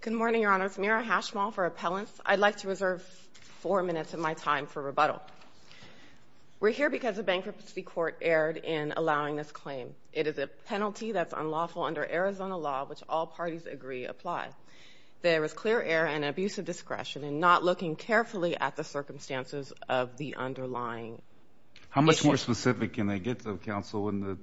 Good morning, Your Honors. Mira Hashmal for Appellants. I'd like to reserve four minutes of my time for rebuttal. We're here because a bankruptcy court erred in allowing this claim. It is a penalty that's unlawful under Arizona law, which all parties agree apply. There is clear error and abusive discretion in not looking carefully at the circumstances of the underlying issue. How much more specific can I get, counsel, in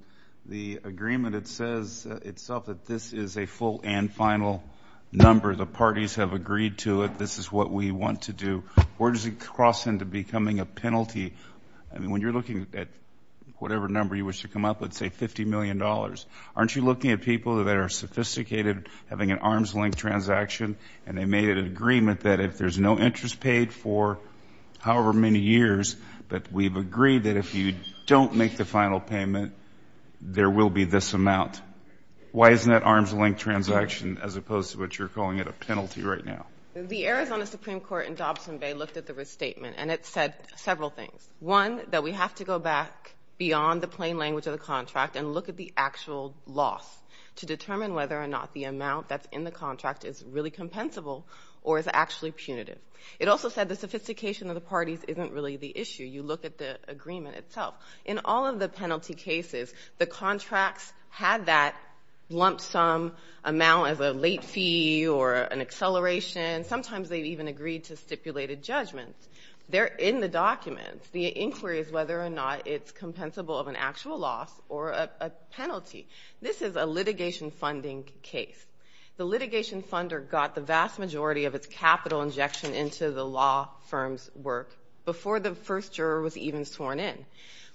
the agreement that says itself that this is a full and final number? The parties have agreed to it. This is what we want to do. Where does it cross into becoming a penalty? I mean, when you're looking at whatever number you wish to come up with, say $50 million, aren't you looking at people that are sophisticated, having an arm's length transaction, and they made an agreement that if there's no interest paid for however many years, that we've agreed that if you don't make the final payment, there will be this amount? Why isn't that arm's length transaction as opposed to what you're calling it a penalty right now? The Arizona Supreme Court in Dobson Bay looked at the restatement, and it said several things. One, that we have to go back beyond the plain language of the contract and look at the actual loss to determine whether or not the amount that's in the contract is really compensable or is actually punitive. It also said the sophistication of the parties isn't really the issue. You look at the agreement itself. In all of the penalty cases, the contracts had that lump sum amount as a late fee or an acceleration. Sometimes they even agreed to stipulated judgments. They're in the documents. The inquiry is whether or not it's funding case. The litigation funder got the vast majority of its capital injection into the law firm's work before the first juror was even sworn in.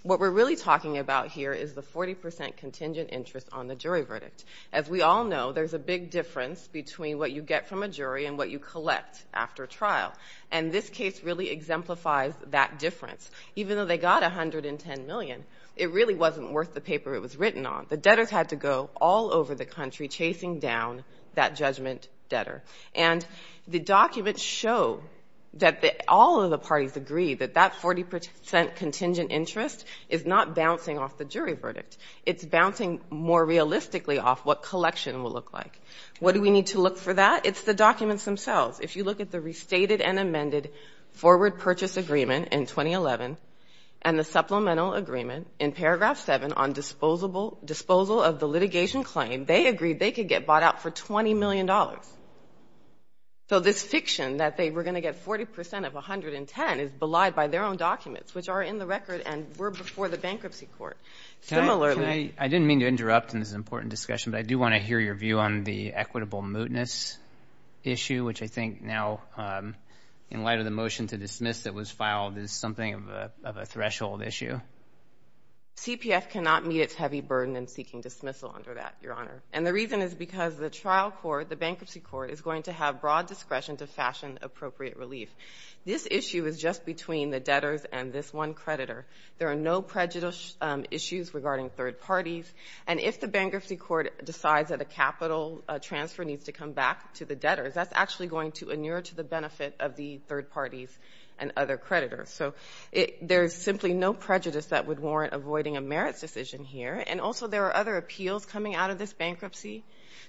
What we're really talking about here is the 40% contingent interest on the jury verdict. As we all know, there's a big difference between what you get from a jury and what you collect after trial, and this case really exemplifies that difference. Even though they got $110 million, it really wasn't worth the paper it was written on. The debtors had to go all over the country chasing down that judgment debtor. The documents show that all of the parties agree that that 40% contingent interest is not bouncing off the jury verdict. It's bouncing more realistically off what collection will look like. What do we need to look for that? It's the documents themselves. If you look at the restated and amended forward purchase agreement in 2011 and the supplemental agreement in paragraph 7 on disposal of the litigation claim, they agreed they could get bought out for $20 million. So this fiction that they were going to get 40% of 110 is belied by their own documents, which are in the record and were before the bankruptcy court. I didn't mean to interrupt in this important discussion, but I do want to hear your view on the equitable mootness issue, which I think now in light of the motion to dismiss that was filed is something of a threshold issue. CPF cannot meet its heavy burden in seeking dismissal under that, Your Honor, and the reason is because the trial court, the bankruptcy court, is going to have broad discretion to fashion appropriate relief. This issue is just between the debtors and this one creditor. There are no prejudice issues regarding third parties, and if the bankruptcy court decides that a capital transfer needs to come back to the debtors, that's actually going to inure to the benefit of the third parties and other creditors. So there's simply no prejudice that would warrant avoiding a merits decision here, and also there are other appeals coming out of this bankruptcy.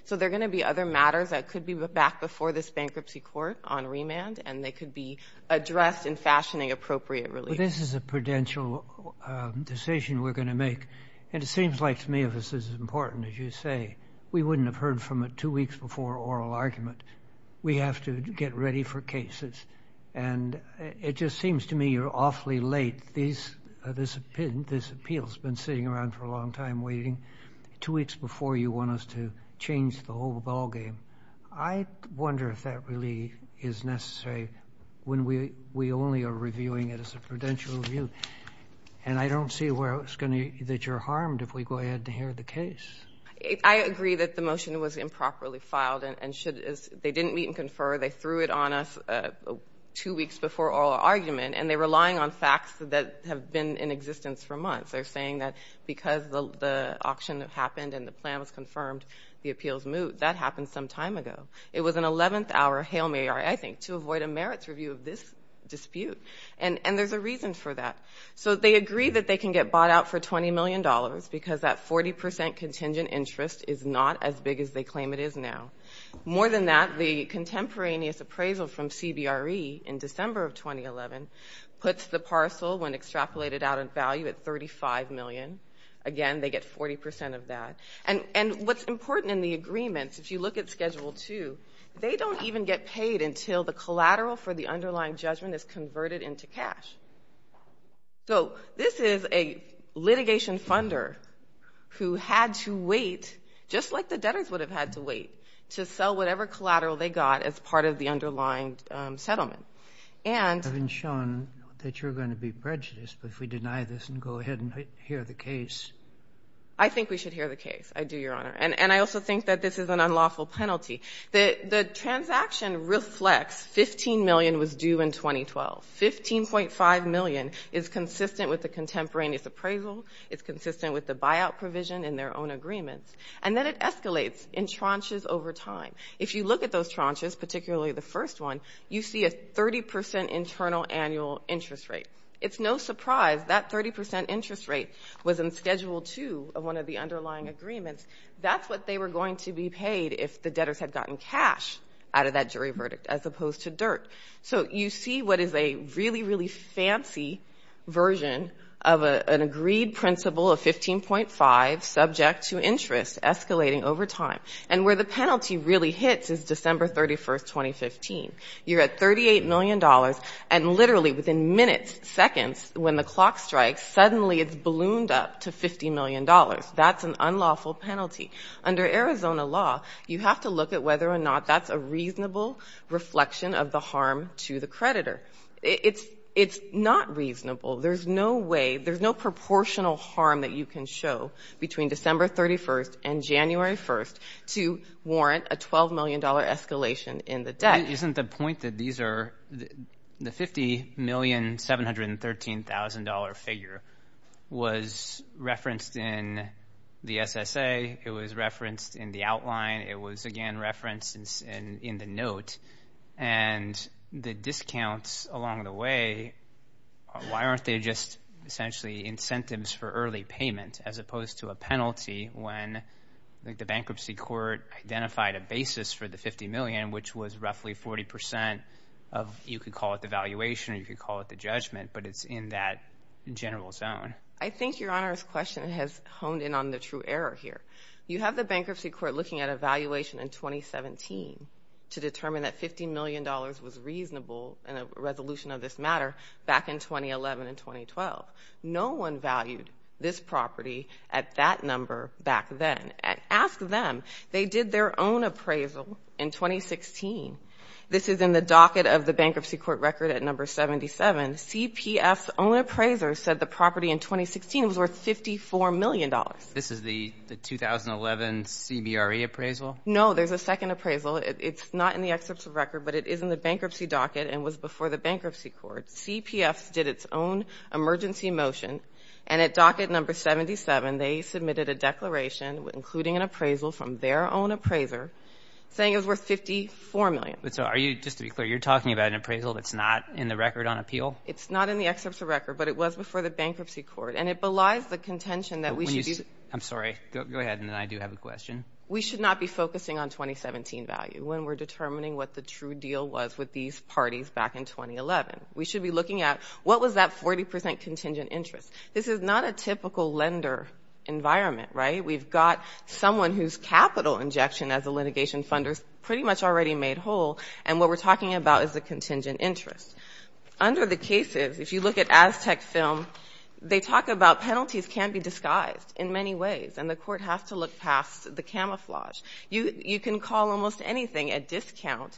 So there are going to be other matters that could be back before this bankruptcy court on remand, and they could be addressed in fashioning appropriate relief. But this is a prudential decision we're going to make, and it seems like to me this is important, as you say. We wouldn't have heard from it two weeks before oral argument. We have to get ready for cases, and it just seems to me you're awfully late. This appeal's been sitting around for a long time waiting. Two weeks before, you want us to change the whole ballgame. I wonder if that really is necessary when we only are reviewing it as a prudential review, and I don't see where it's that you're harmed if we go ahead and inherit the case. I agree that the motion was improperly filed, and they didn't meet and confer. They threw it on us two weeks before oral argument, and they're relying on facts that have been in existence for months. They're saying that because the auction happened and the plan was confirmed, the appeals moved. That happened some time ago. It was an 11th hour hail Mary, I think, to avoid a merits review of this dispute, and there's a reason for that. So they agree that they can get bought out for $20 million because that 40% contingent interest is not as big as they claim it is now. More than that, the contemporaneous appraisal from CBRE in December of 2011 puts the parcel when extrapolated out in value at $35 million. Again, they get 40% of that, and what's important in the agreements, if you look at Schedule II, they don't even get paid until the collateral for the underlying judgment is converted into cash. So this is a litigation funder who had to wait, just like the debtors would have had to wait, to sell whatever collateral they got as part of the underlying settlement. I've been shown that you're going to be prejudiced, but if we deny this and go ahead and hear the case. I think we should hear the case. I do, $15 million was due in 2012. $15.5 million is consistent with the contemporaneous appraisal, it's consistent with the buyout provision in their own agreements, and then it escalates in tranches over time. If you look at those tranches, particularly the first one, you see a 30% internal annual interest rate. It's no surprise that 30% interest rate was in Schedule II of one of the underlying agreements. That's what they were going to be paid if the debtors had gotten cash out of that jury verdict as opposed to dirt. So you see what is a really, really fancy version of an agreed principle of $15.5 million subject to interest escalating over time. And where the penalty really hits is December 31, 2015. You're at $38 million, and literally within minutes, seconds, when the clock strikes, suddenly it's ballooned up to $50 million. That's an reasonable reflection of the harm to the creditor. It's not reasonable. There's no way, there's no proportional harm that you can show between December 31 and January 1 to warrant a $12 million escalation in the debt. Isn't the point that these are, the $50,713,000 figure was referenced in the SSA, it was referenced in the outline, it was again referenced in the note, and the discounts along the way, why aren't they just essentially incentives for early payment as opposed to a penalty when the bankruptcy court identified a basis for the $50 million, which was roughly 40% of, you could call it the valuation or you could call it the judgment, but it's in that general zone. I think Your Honor's question has honed in on the true error here. You have the bankruptcy court looking at a valuation in 2017 to determine that $50 million was reasonable in a resolution of this matter back in 2011 and 2012. No one valued this property at that number back then. Ask them. They did their own appraisal in 2016. This is in the docket of the bankruptcy court record at number 77. CPF's own appraiser said the property in 2016 was worth $54 million. This is the 2011 CBRE appraisal? No, there's a second appraisal. It's not in the excerpts of record, but it is in the bankruptcy docket and was before the bankruptcy court. CPF did its own emergency motion and at docket number 77, they submitted a declaration including an appraisal from their own appraiser saying it was worth $54 million. But so are you, to be clear, you're talking about an appraisal that's not in the record on appeal? It's not in the excerpts of record, but it was before the bankruptcy court and it belies the contention that we should be... I'm sorry, go ahead and then I do have a question. We should not be focusing on 2017 value when we're determining what the true deal was with these parties back in 2011. We should be looking at what was that 40% contingent interest. This is not a typical lender environment, right? We've got someone whose capital injection as a litigation funder's already made whole and what we're talking about is the contingent interest. Under the cases, if you look at Aztec film, they talk about penalties can be disguised in many ways and the court has to look past the camouflage. You can call almost anything a discount,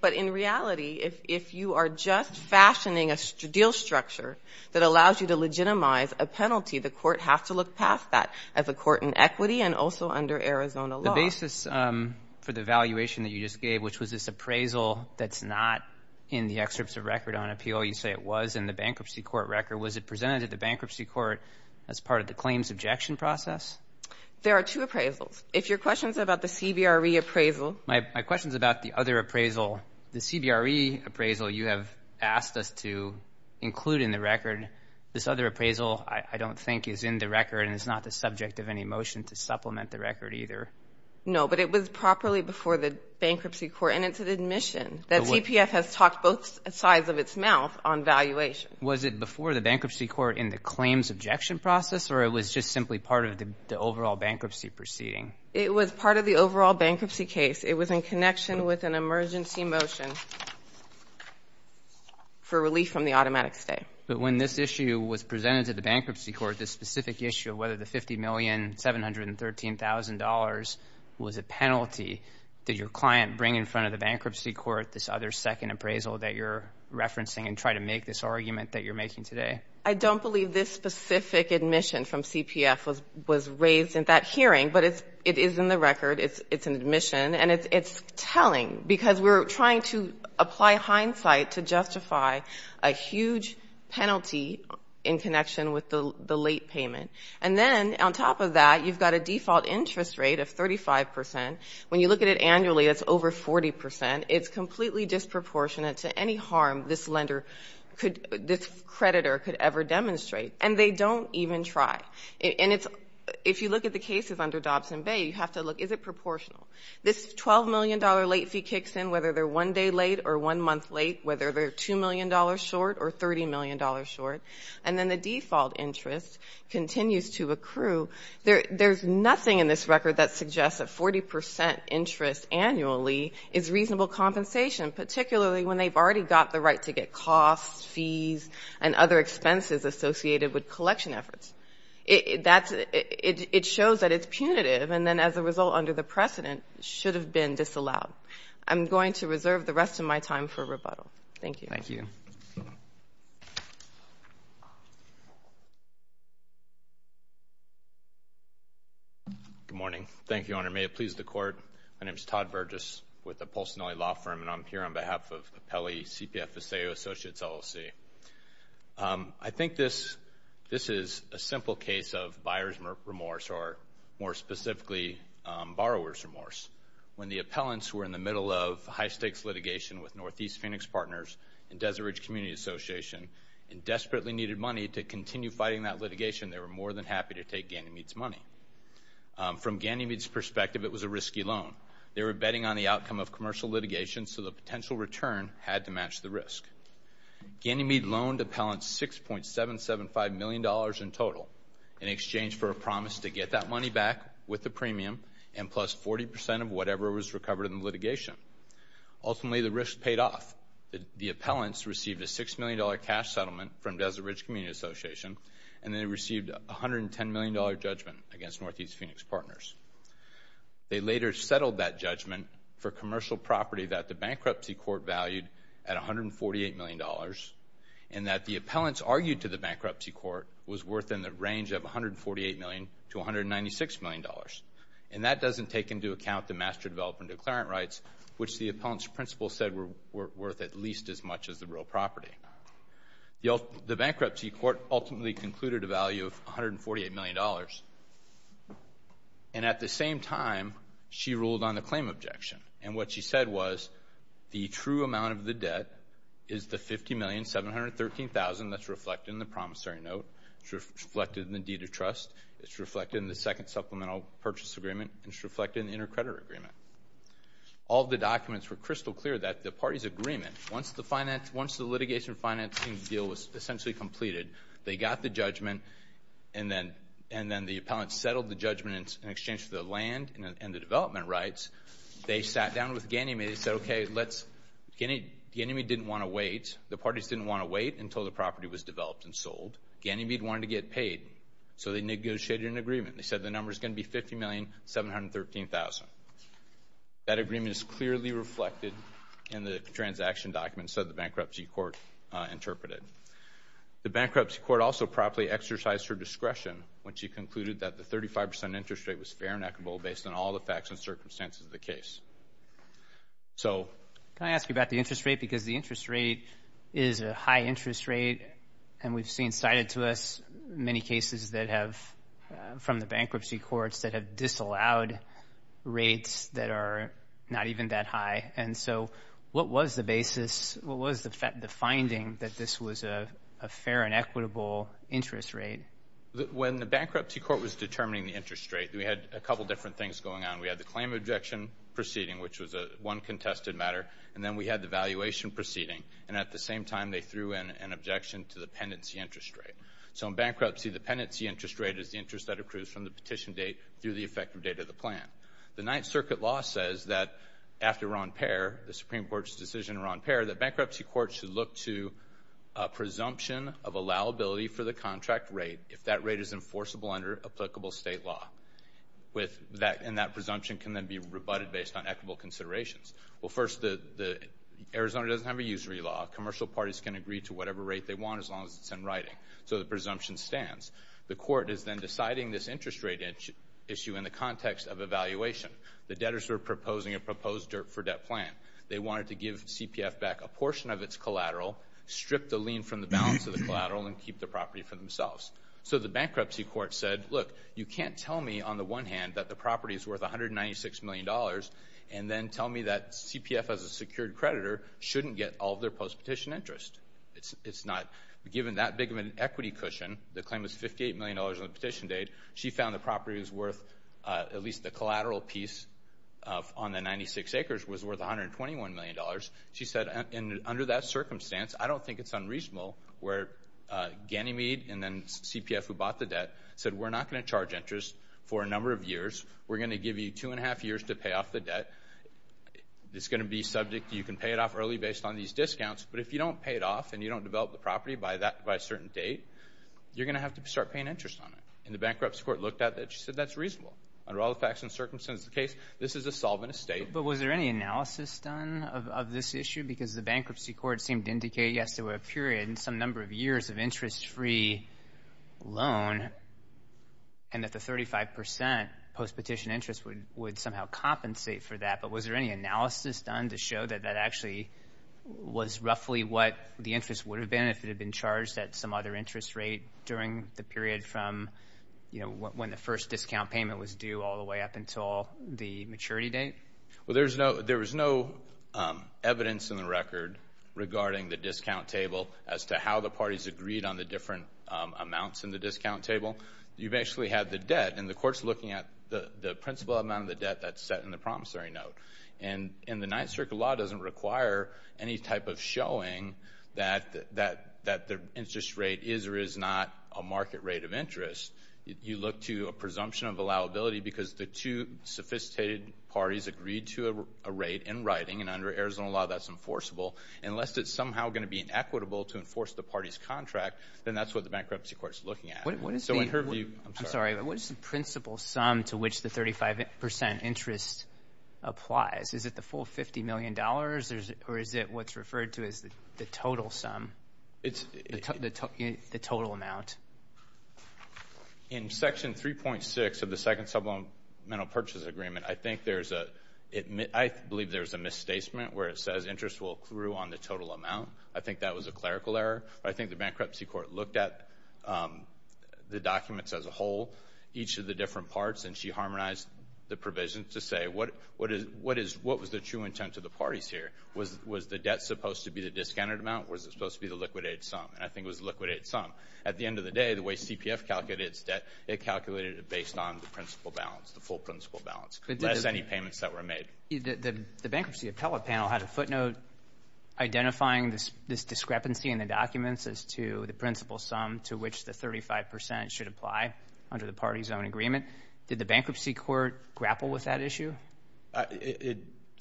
but in reality, if you are just fashioning a deal structure that allows you to legitimize a penalty, the court has to look past that as a court in equity and also under Arizona law. The basis for the valuation that you just gave, which was this appraisal that's not in the excerpts of record on appeal, you say it was in the bankruptcy court record. Was it presented at the bankruptcy court as part of the claims objection process? There are two appraisals. If your question's about the CBRE appraisal... My question's about the other appraisal, the CBRE appraisal you have asked us to include in the record. This other appraisal I don't think is in the record and it's not the subject of any motion to supplement the record either. No, but it was properly before the bankruptcy court and it's an admission that TPF has talked both sides of its mouth on valuation. Was it before the bankruptcy court in the claims objection process or it was just simply part of the overall bankruptcy proceeding? It was part of the overall bankruptcy case. It was in connection with an emergency motion for relief from the automatic stay. But when this issue was presented to the bankruptcy court, this specific issue of whether the $50,713,000 was a penalty, did your client bring in front of the bankruptcy court this other second appraisal that you're referencing and try to make this argument that you're making today? I don't believe this specific admission from CPF was raised in that hearing, but it is in the record. It's an admission and it's telling because we're trying to apply hindsight to On top of that, you've got a default interest rate of 35 percent. When you look at it annually, it's over 40 percent. It's completely disproportionate to any harm this lender could, this creditor could ever demonstrate. And they don't even try. And it's, if you look at the cases under Dobson Bay, you have to look, is it proportional? This $12 million late fee kicks in whether they're one day late or one month late, whether they're $2 million short or $30 million short. And then the default interest continues to accrue. There's nothing in this record that suggests a 40 percent interest annually is reasonable compensation, particularly when they've already got the right to get costs, fees and other expenses associated with collection efforts. It shows that it's punitive. And then as a result, under the precedent, should have been disallowed. I'm going to reserve the rest of my time for rebuttal. Thank you. Good morning. Thank you, Your Honor. May it please the Court. My name is Todd Burgess with the Polsonelli Law Firm, and I'm here on behalf of Appellee CPFSA Associates LLC. I think this is a simple case of buyer's remorse, or more specifically, borrower's remorse. When the Association desperately needed money to continue fighting that litigation, they were more than happy to take Ganymede's money. From Ganymede's perspective, it was a risky loan. They were betting on the outcome of commercial litigation, so the potential return had to match the risk. Ganymede loaned Appellant $6.775 million in total in exchange for a promise to get that money back with the premium and plus 40 percent of whatever was recovered in the received a $6 million cash settlement from Desert Ridge Community Association, and they received a $110 million judgment against Northeast Phoenix Partners. They later settled that judgment for commercial property that the bankruptcy court valued at $148 million, and that the appellants argued to the bankruptcy court was worth in the range of $148 million to $196 million. And that doesn't take into account the master development declarant rights, which the appellant's principal said were worth at least as much as the real property. The bankruptcy court ultimately concluded a value of $148 million. And at the same time, she ruled on the claim objection. And what she said was, the true amount of the debt is the $50,713,000 that's reflected in the promissory note, it's reflected in the deed of trust, it's reflected in the second supplemental purchase agreement, and it's reflected in the intercreditor agreement. All the documents were crystal clear that the party's agreement, once the litigation financing deal was essentially completed, they got the judgment, and then the appellant settled the judgment in exchange for the land and the development rights, they sat down with Ganymede and said, okay, Ganymede didn't want to wait. The parties didn't want to wait until the property was developed and sold. Ganymede wanted to get paid. So they negotiated an agreement. They said the number is going to be $50,713,000. That agreement is clearly reflected in the transaction documents that the bankruptcy court interpreted. The bankruptcy court also properly exercised her discretion when she concluded that the 35% interest rate was fair and equitable based on all the facts and circumstances of the case. So... Can I ask you about the interest rate? Because the interest rate is a high interest rate, and we've seen cited to us many cases that have, from the bankruptcy courts, that have disallowed rates that are not even that high. And so what was the basis, what was the finding that this was a fair and equitable interest rate? When the bankruptcy court was determining the interest rate, we had a couple different things going on. We had the claim objection proceeding, which was one contested matter, and then we had the valuation proceeding. And at the same time, they threw in an objection to the pendency interest rate. So in bankruptcy, the pendency interest rate is the interest that accrues from the petition date through the effective date of the plan. The Ninth Circuit law says that after we're on pair, the Supreme Court's decision we're on pair, that bankruptcy courts should look to a presumption of allowability for the contract rate if that rate is enforceable under applicable state law. And that presumption can then be rebutted based on equitable considerations. Well, first, Arizona doesn't ever use re-law. Commercial parties can agree to whatever rate they want as long as it's in writing. So the presumption stands. The court is then deciding this interest rate issue in the context of evaluation. The debtors were proposing a proposed dirt-for-debt plan. They wanted to give CPF back a portion of its collateral, strip the lien from the balance of the collateral, and keep the property for themselves. So the bankruptcy court said, look, you can't tell me, on the one hand, that the property is worth $196 million, and then tell me that CPF as a secured creditor shouldn't get all of their post-petition interest. It's not. Given that big of an equity cushion, the claim was $58 million on the petition date, she found the property was worth, at least the collateral piece on the 96 acres, was worth $121 million. She said, under that circumstance, I don't think it's unreasonable where Ganymede and then CPF who bought the debt said, we're not going to charge interest for a number of years. We're going to give you two and a half years to pay it off early based on these discounts. But if you don't pay it off, and you don't develop the property by a certain date, you're going to have to start paying interest on it. And the bankruptcy court looked at that. She said, that's reasonable. Under all the facts and circumstances of the case, this is a solvent estate. But was there any analysis done of this issue? Because the bankruptcy court seemed to indicate, yes, there were a period and some number of years of interest-free loan, and that the 35% post-petition interest would somehow compensate for that. But was there any analysis done to show that that actually was roughly what the interest would have been if it had been charged at some other interest rate during the period from when the first discount payment was due all the way up until the maturity date? Well, there was no evidence in the record regarding the discount table as to how the parties agreed on the different amounts in the discount table. You've actually had the debt, and the court's looking at the principal amount of the promissory note. And the Ninth Circuit Law doesn't require any type of showing that the interest rate is or is not a market rate of interest. You look to a presumption of allowability because the two sophisticated parties agreed to a rate in writing, and under Arizona law, that's enforceable. And lest it's somehow going to be inequitable to enforce the party's contract, then that's what the bankruptcy court's looking at. I'm sorry, but what is the principal sum to which the 35% interest applies? Is it the full $50 million, or is it what's referred to as the total sum, the total amount? In Section 3.6 of the Second Subliminal Purchase Agreement, I think there's a, I believe there's a misstatement where it says interest will accrue on the total amount. I think that was a clerical error. I think the bankruptcy court looked at the documents as a and she harmonized the provisions to say what was the true intent of the parties here. Was the debt supposed to be the discounted amount? Was it supposed to be the liquidated sum? And I think it was the liquidated sum. At the end of the day, the way CPF calculated its debt, it calculated it based on the principal balance, the full principal balance, less any payments that were made. The bankruptcy appellate panel had a footnote identifying this discrepancy in the documents as to the principal sum to which the 35% should apply under the party's own agreement. Did the bankruptcy court grapple with that issue?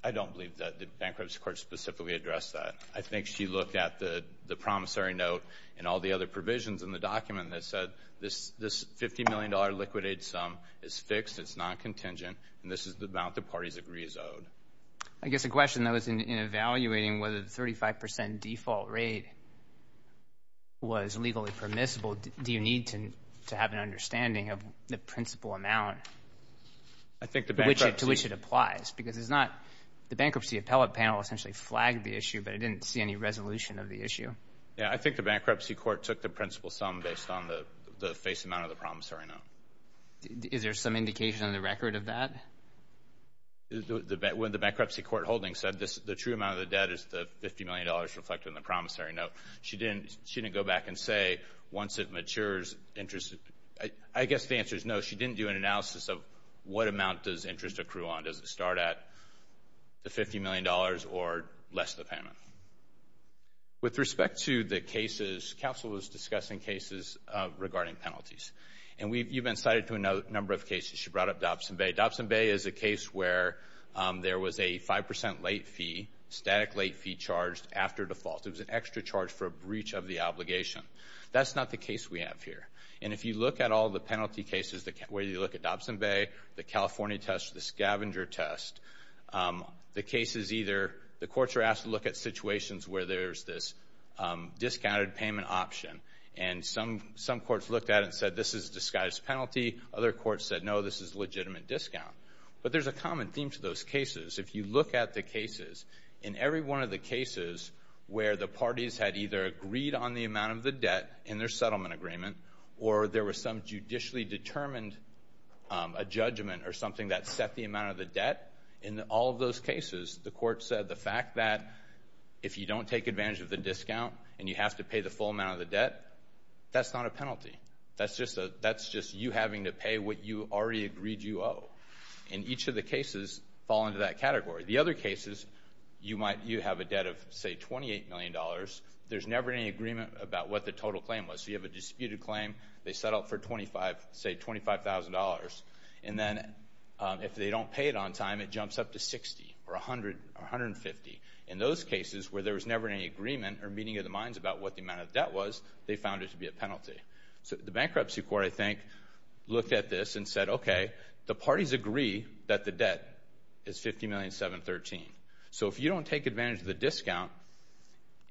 I don't believe that the bankruptcy court specifically addressed that. I think she looked at the promissory note and all the other provisions in the document that said this $50 million liquidated sum is fixed, it's non-contingent, and this is the amount the parties agree is owed. I guess the question, though, is in evaluating whether the 35% default rate was legally permissible, do you need to have an understanding of the principal amount to which it applies? Because the bankruptcy appellate panel essentially flagged the issue, but I didn't see any resolution of the issue. Yeah, I think the bankruptcy court took the principal sum based on the face amount of the promissory note. Is there some indication in the record of that? The bankruptcy court holding said the true amount of the debt is $50 million reflected in the promissory note. She didn't go back and say once it matures, I guess the answer is no. She didn't do an analysis of what amount does interest accrue on. Does it start at the $50 million or less the payment? With respect to the cases, counsel was discussing cases regarding penalties. You've been cited to a number of cases. She charged after default. It was an extra charge for a breach of the obligation. That's not the case we have here. If you look at all the penalty cases, whether you look at Dobson Bay, the California test, the scavenger test, the courts are asked to look at situations where there's this discounted payment option. Some courts looked at it and said this is a disguised penalty. Other courts said no, this is a legitimate discount. There's a common theme to those cases. In every one of the cases where the parties had either agreed on the amount of the debt in their settlement agreement or there was some judicially determined judgment or something that set the amount of the debt, in all of those cases, the court said the fact that if you don't take advantage of the discount and you have to pay the full amount of the debt, that's not a penalty. That's just you having to pay what you already agreed you owe. And each of the cases fall into that category. The other cases, you have a debt of, say, $28 million. There's never any agreement about what the total claim was. So you have a disputed claim. They set out for, say, $25,000. And then if they don't pay it on time, it jumps up to $60 or $150. In those cases where there was never any agreement or meeting of the minds about what the amount of debt was, they found it to be a penalty. So the bankruptcy court, I think, looked at this and said, okay, the parties agree that the debt is $50,713,000. So if you don't take advantage of the discount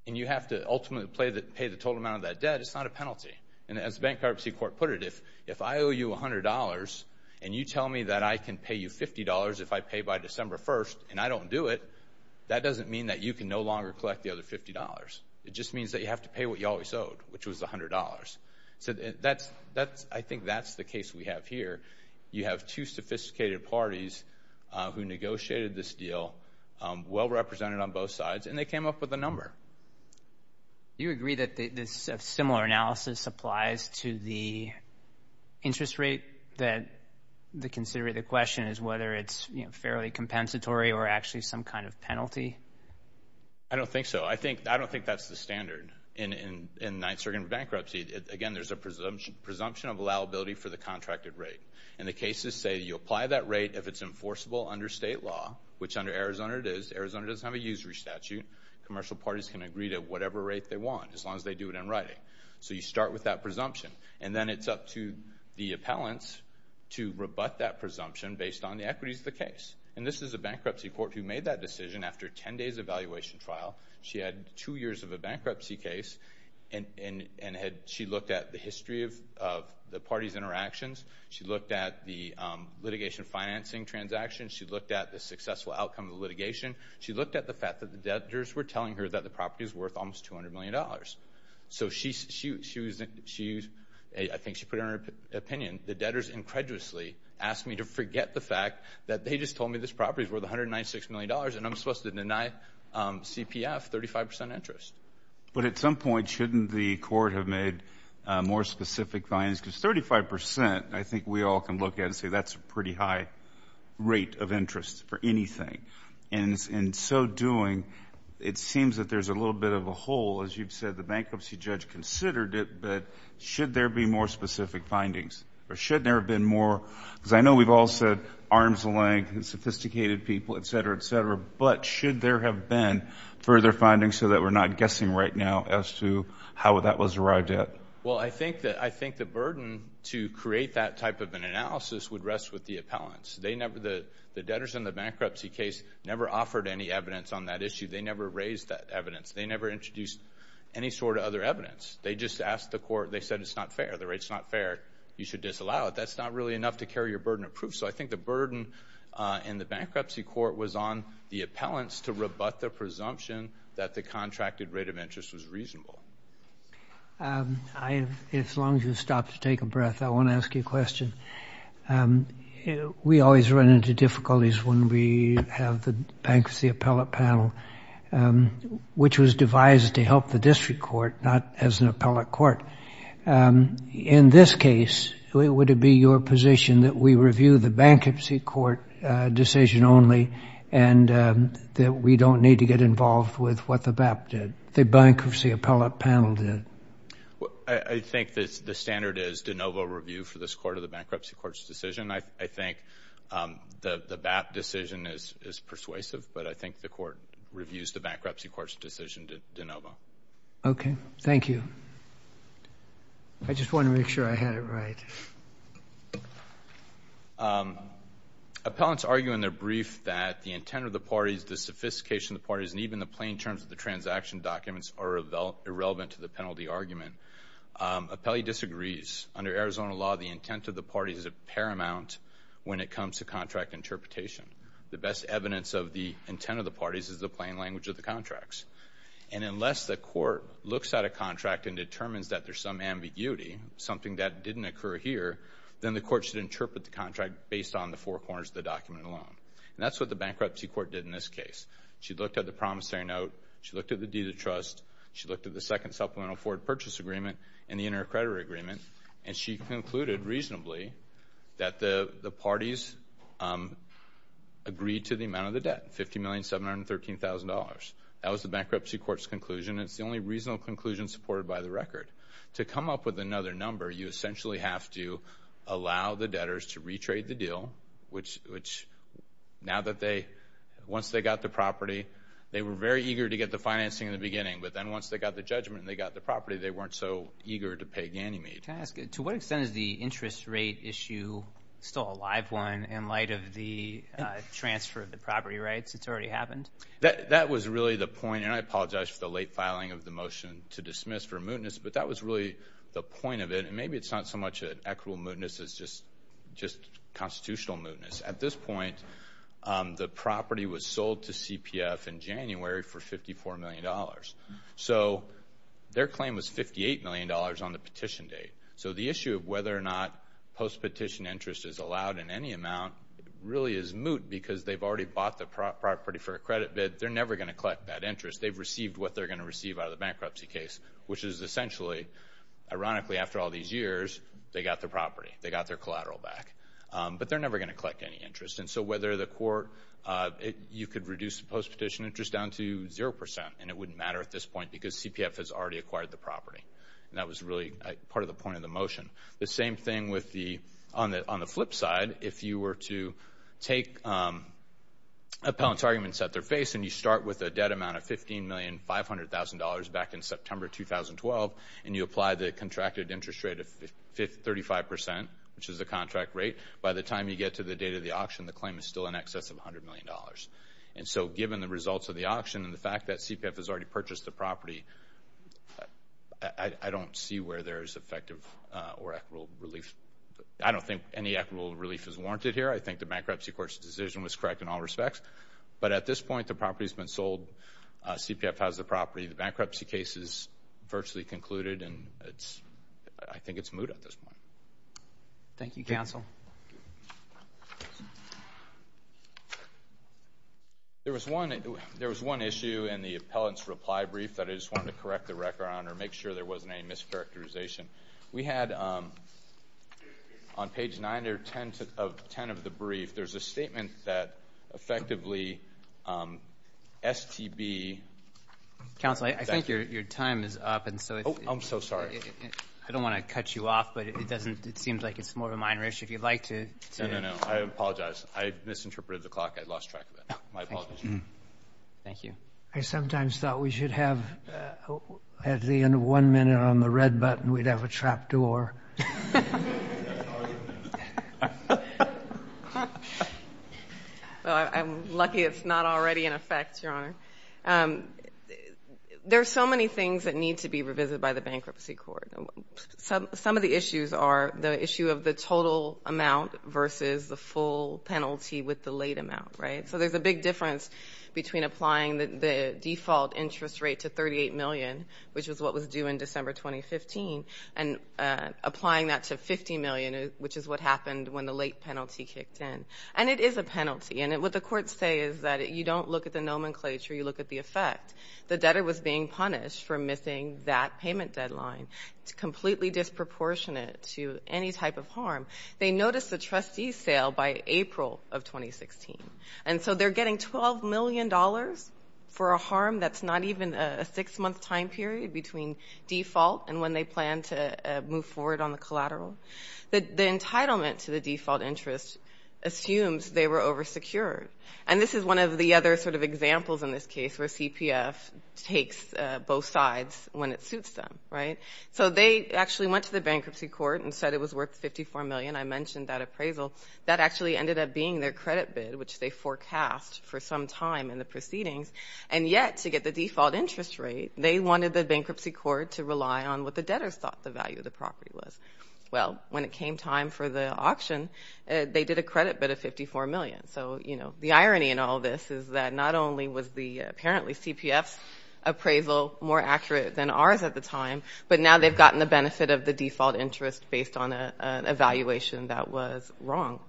and you have to ultimately pay the total amount of that debt, it's not a penalty. And as the bankruptcy court put it, if I owe you $100 and you tell me that I can pay you $50 if I pay by December 1st and I don't do it, that doesn't mean that you can no longer collect the other $50. It just means that you have to pay what you always owed, which was $100. So I think that's the case we have here. You have two sophisticated parties who negotiated this deal, well-represented on both sides, and they came up with a number. Do you agree that this similar analysis applies to the interest rate that they consider the question is whether it's fairly compensatory or actually some kind of penalty? I don't think so. I don't think that's the standard in ninth-circuit bankruptcy. Again, there's a presumption of allowability for the contracted rate. And the cases say you apply that rate if it's enforceable under state law, which under Arizona it is. Arizona doesn't have a usury statute. Commercial parties can agree to whatever rate they want, as long as they do it in writing. So you start with that presumption. And then it's up to the appellants to rebut that presumption based on the equities of the case. And this is a bankruptcy court who made that decision after 10 days of evaluation trial. She had two years of a bankruptcy case. And she looked at the history of the parties' interactions. She looked at the litigation financing transactions. She looked at the successful outcome of the litigation. She looked at the fact that the debtors were telling her that the property is worth almost $200 million. So I think she put it in her opinion, the debtors incredulously asked me to forget the fact that they just told me this property is worth $196 million and I'm supposed to deny CPF 35% interest. But at some point, shouldn't the court have made more specific findings? Because 35%, I think we all can look at and say that's a pretty high rate of interest for anything. And in so doing, it seems that there's a little bit of a hole. As you've said, the bankruptcy judge considered it. But should there be more specific findings? Or shouldn't there have been more? Because I know we've all said arm's length and sophisticated people, et cetera, et cetera. But should there have been further findings so that we're not guessing right now as to how that was arrived at? Well, I think the burden to create that type of an analysis would rest with the appellants. The debtors in the bankruptcy case never offered any evidence on that issue. They never raised that evidence. They never introduced any sort of other evidence. They just asked the court. They said it's not fair. The rate's not fair. You should disallow it. That's not really enough to carry your burden of proof. So I think the burden in the bankruptcy court was on the appellants to rebut the presumption that the contracted rate of interest was reasonable. As long as you stop to take a breath, I want to ask you a question. We always run into difficulties when we have the bankruptcy appellate panel, which was devised to help the district court, not as an appellate court. In this case, would it be your position that we review the bankruptcy court decision only and that we don't need to get involved with what the BAP did, the bankruptcy appellate panel did? I think that the standard is de novo review for this court of the bankruptcy court's decision. I think the BAP decision is persuasive, but I think the court reviews the bankruptcy court's decision de novo. Okay. Thank you. I just want to make sure I had it right. Appellants argue in their brief that the intent of the parties, the sophistication of the parties, and even the plain terms of the transaction documents are irrelevant to the penalty argument. Appellee disagrees. Under Arizona law, the intent of the parties is paramount when it comes to contract interpretation. The best evidence of the intent of the parties is the plain language of the document. Unless the court looks at a contract and determines that there's some ambiguity, something that didn't occur here, then the court should interpret the contract based on the four corners of the document alone. That's what the bankruptcy court did in this case. She looked at the promissory note. She looked at the deed of trust. She looked at the second supplemental forward purchase agreement and the inter-accreditor agreement. She concluded reasonably that the parties agreed to the amount of the debt, $50,713,000. That was the bankruptcy court's conclusion. It's the only reasonable conclusion supported by the record. To come up with another number, you essentially have to allow the debtors to retrade the deal, which now that once they got the property, they were very eager to get the financing in the beginning, but then once they got the judgment and they got the property, they weren't so eager to pay Ganymede. To what extent is the interest rate issue still a live one in light of the transfer of the property rights that's already happened? That was really the point. I apologize for the late filing of the motion to dismiss for mootness, but that was really the point of it. Maybe it's not so much an equitable mootness. It's just constitutional mootness. At this point, the property was sold to CPF in January for $54 million. Their claim was $58 million on the petition date. The issue of whether or not post-petition interest is allowed in any amount really is moot because they've already bought the property for a credit bid. They're never going to collect that interest. They've received what they're going to receive out of the bankruptcy case, which is essentially, ironically, after all these years, they got the property. They got their collateral back, but they're never going to collect any interest. Whether the court, you could reduce the post-petition interest down to 0%, and it wouldn't matter at this point because CPF has already acquired the property. That was really part of the point of the motion. The same thing on the flip side. If you were to take appellant's arguments at their face, and you start with a debt amount of $15,500,000 back in September 2012, and you apply the contracted interest rate of 35%, which is the contract rate, by the time you get to the date of the auction, the claim is still in excess of $100 million. Given the results of the auction and the fact that CPF has already purchased the property, I don't see where there is any equitable relief. I don't think any equitable relief is warranted here. I think the bankruptcy court's decision was correct in all respects. But at this point, the property's been sold. CPF has the property. The bankruptcy case is virtually concluded, and I think it's moot at this point. Thank you, counsel. There was one issue in the appellant's reply brief that I just wanted to correct the record on or make sure there wasn't any mischaracterization. We had on page 9 or 10 of the brief, there's a statement that effectively STB... Counsel, I think your time is up. I'm so sorry. I don't want to cut you off, but it seems like it's more of a minor issue. If you'd like to... No, no, no. I apologize. I misinterpreted the clock. I lost track of it. My apologies. Thank you. I sometimes thought we should have at the end of one minute on the red button, we'd have a trap door. I'm lucky it's not already in effect, Your Honor. There are so many things that need to be revisited by the bankruptcy court. Some of the issues are the issue of the total amount versus the full penalty with the late amount, right? So there's a big difference between applying the default interest rate to $38 million, which was what was due in December 2015, and applying that to $50 million, which is what happened when the late penalty kicked in. And it is a penalty. And what the courts say is that you don't look at the nomenclature, you look at the effect. The debtor was being punished for missing that payment deadline. It's completely disproportionate to any type of harm. They noticed the trustee sale by April of 2016. And so they're getting $12 million for a harm that's not even a six-month time period between default and when they plan to move forward on the collateral. The entitlement to the default interest assumes they were oversecured. And this is one of the other sort of examples in this case where CPF takes both sides when it suits them, right? So they actually went to the bankruptcy court and said it was worth $54 million. I mentioned that appraisal. That actually ended up being their credit bid, which they forecast for some time in the proceedings. And yet, to get the default interest rate, they wanted the bankruptcy court to rely on what the debtors thought the value of the property was. Well, when it came time for the auction, they did a credit bid of $54 million. So, you know, the irony in all this is that not only was the apparently CPF's appraisal more accurate than ours at the time, but now they've gotten the benefit of the default interest based on an evaluation that was wrong.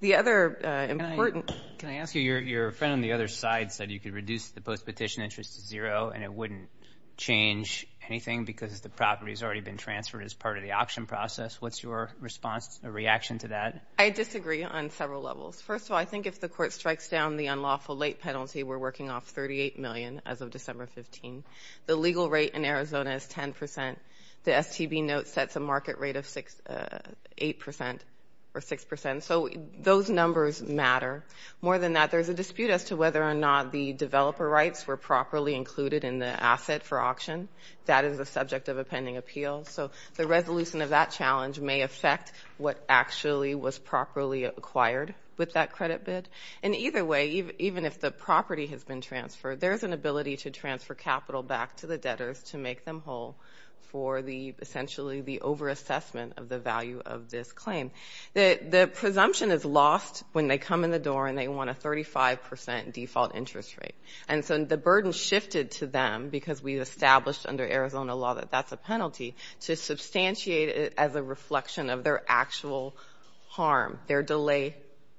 The other important Can I ask you, your friend on the other side said you could reduce the post-petition interest to zero and it wouldn't change anything because the property has already been transferred as part of the auction process. What's your response or reaction to that? I disagree on several levels. First of all, I think if the court strikes down the unlawful late penalty, we're working off $38 million as of December 15. The legal rate in Arizona is 10%. The STB note sets a market rate of 8% or 6%. So those numbers matter. More than that, there's a dispute as to whether or not the developer rights were properly included in the asset for auction. That is a subject of a pending appeal. So the resolution of that challenge may affect what actually was properly acquired with that credit bid. And either way, even if the property has been transferred, there's an ability to transfer capital back to the debtors to make them whole for the essentially the over-assessment of the value of this claim. The presumption is lost when they come in the door and they want a 35% default interest rate. And so the burden shifted to them because we established under Arizona law that that's a penalty to substantiate it as a reflection of their actual harm, their delay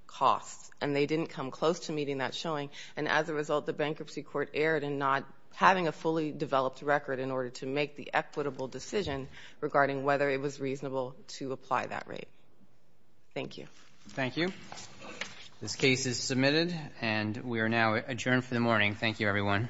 costs. And they didn't come close to meeting that showing. And as a result, the bankruptcy court erred in not having a fully developed record in order to make the equitable decision regarding whether it was reasonable to apply that rate. Thank you. Thank you. This case is submitted and we are now adjourned for the morning. Thank you everyone.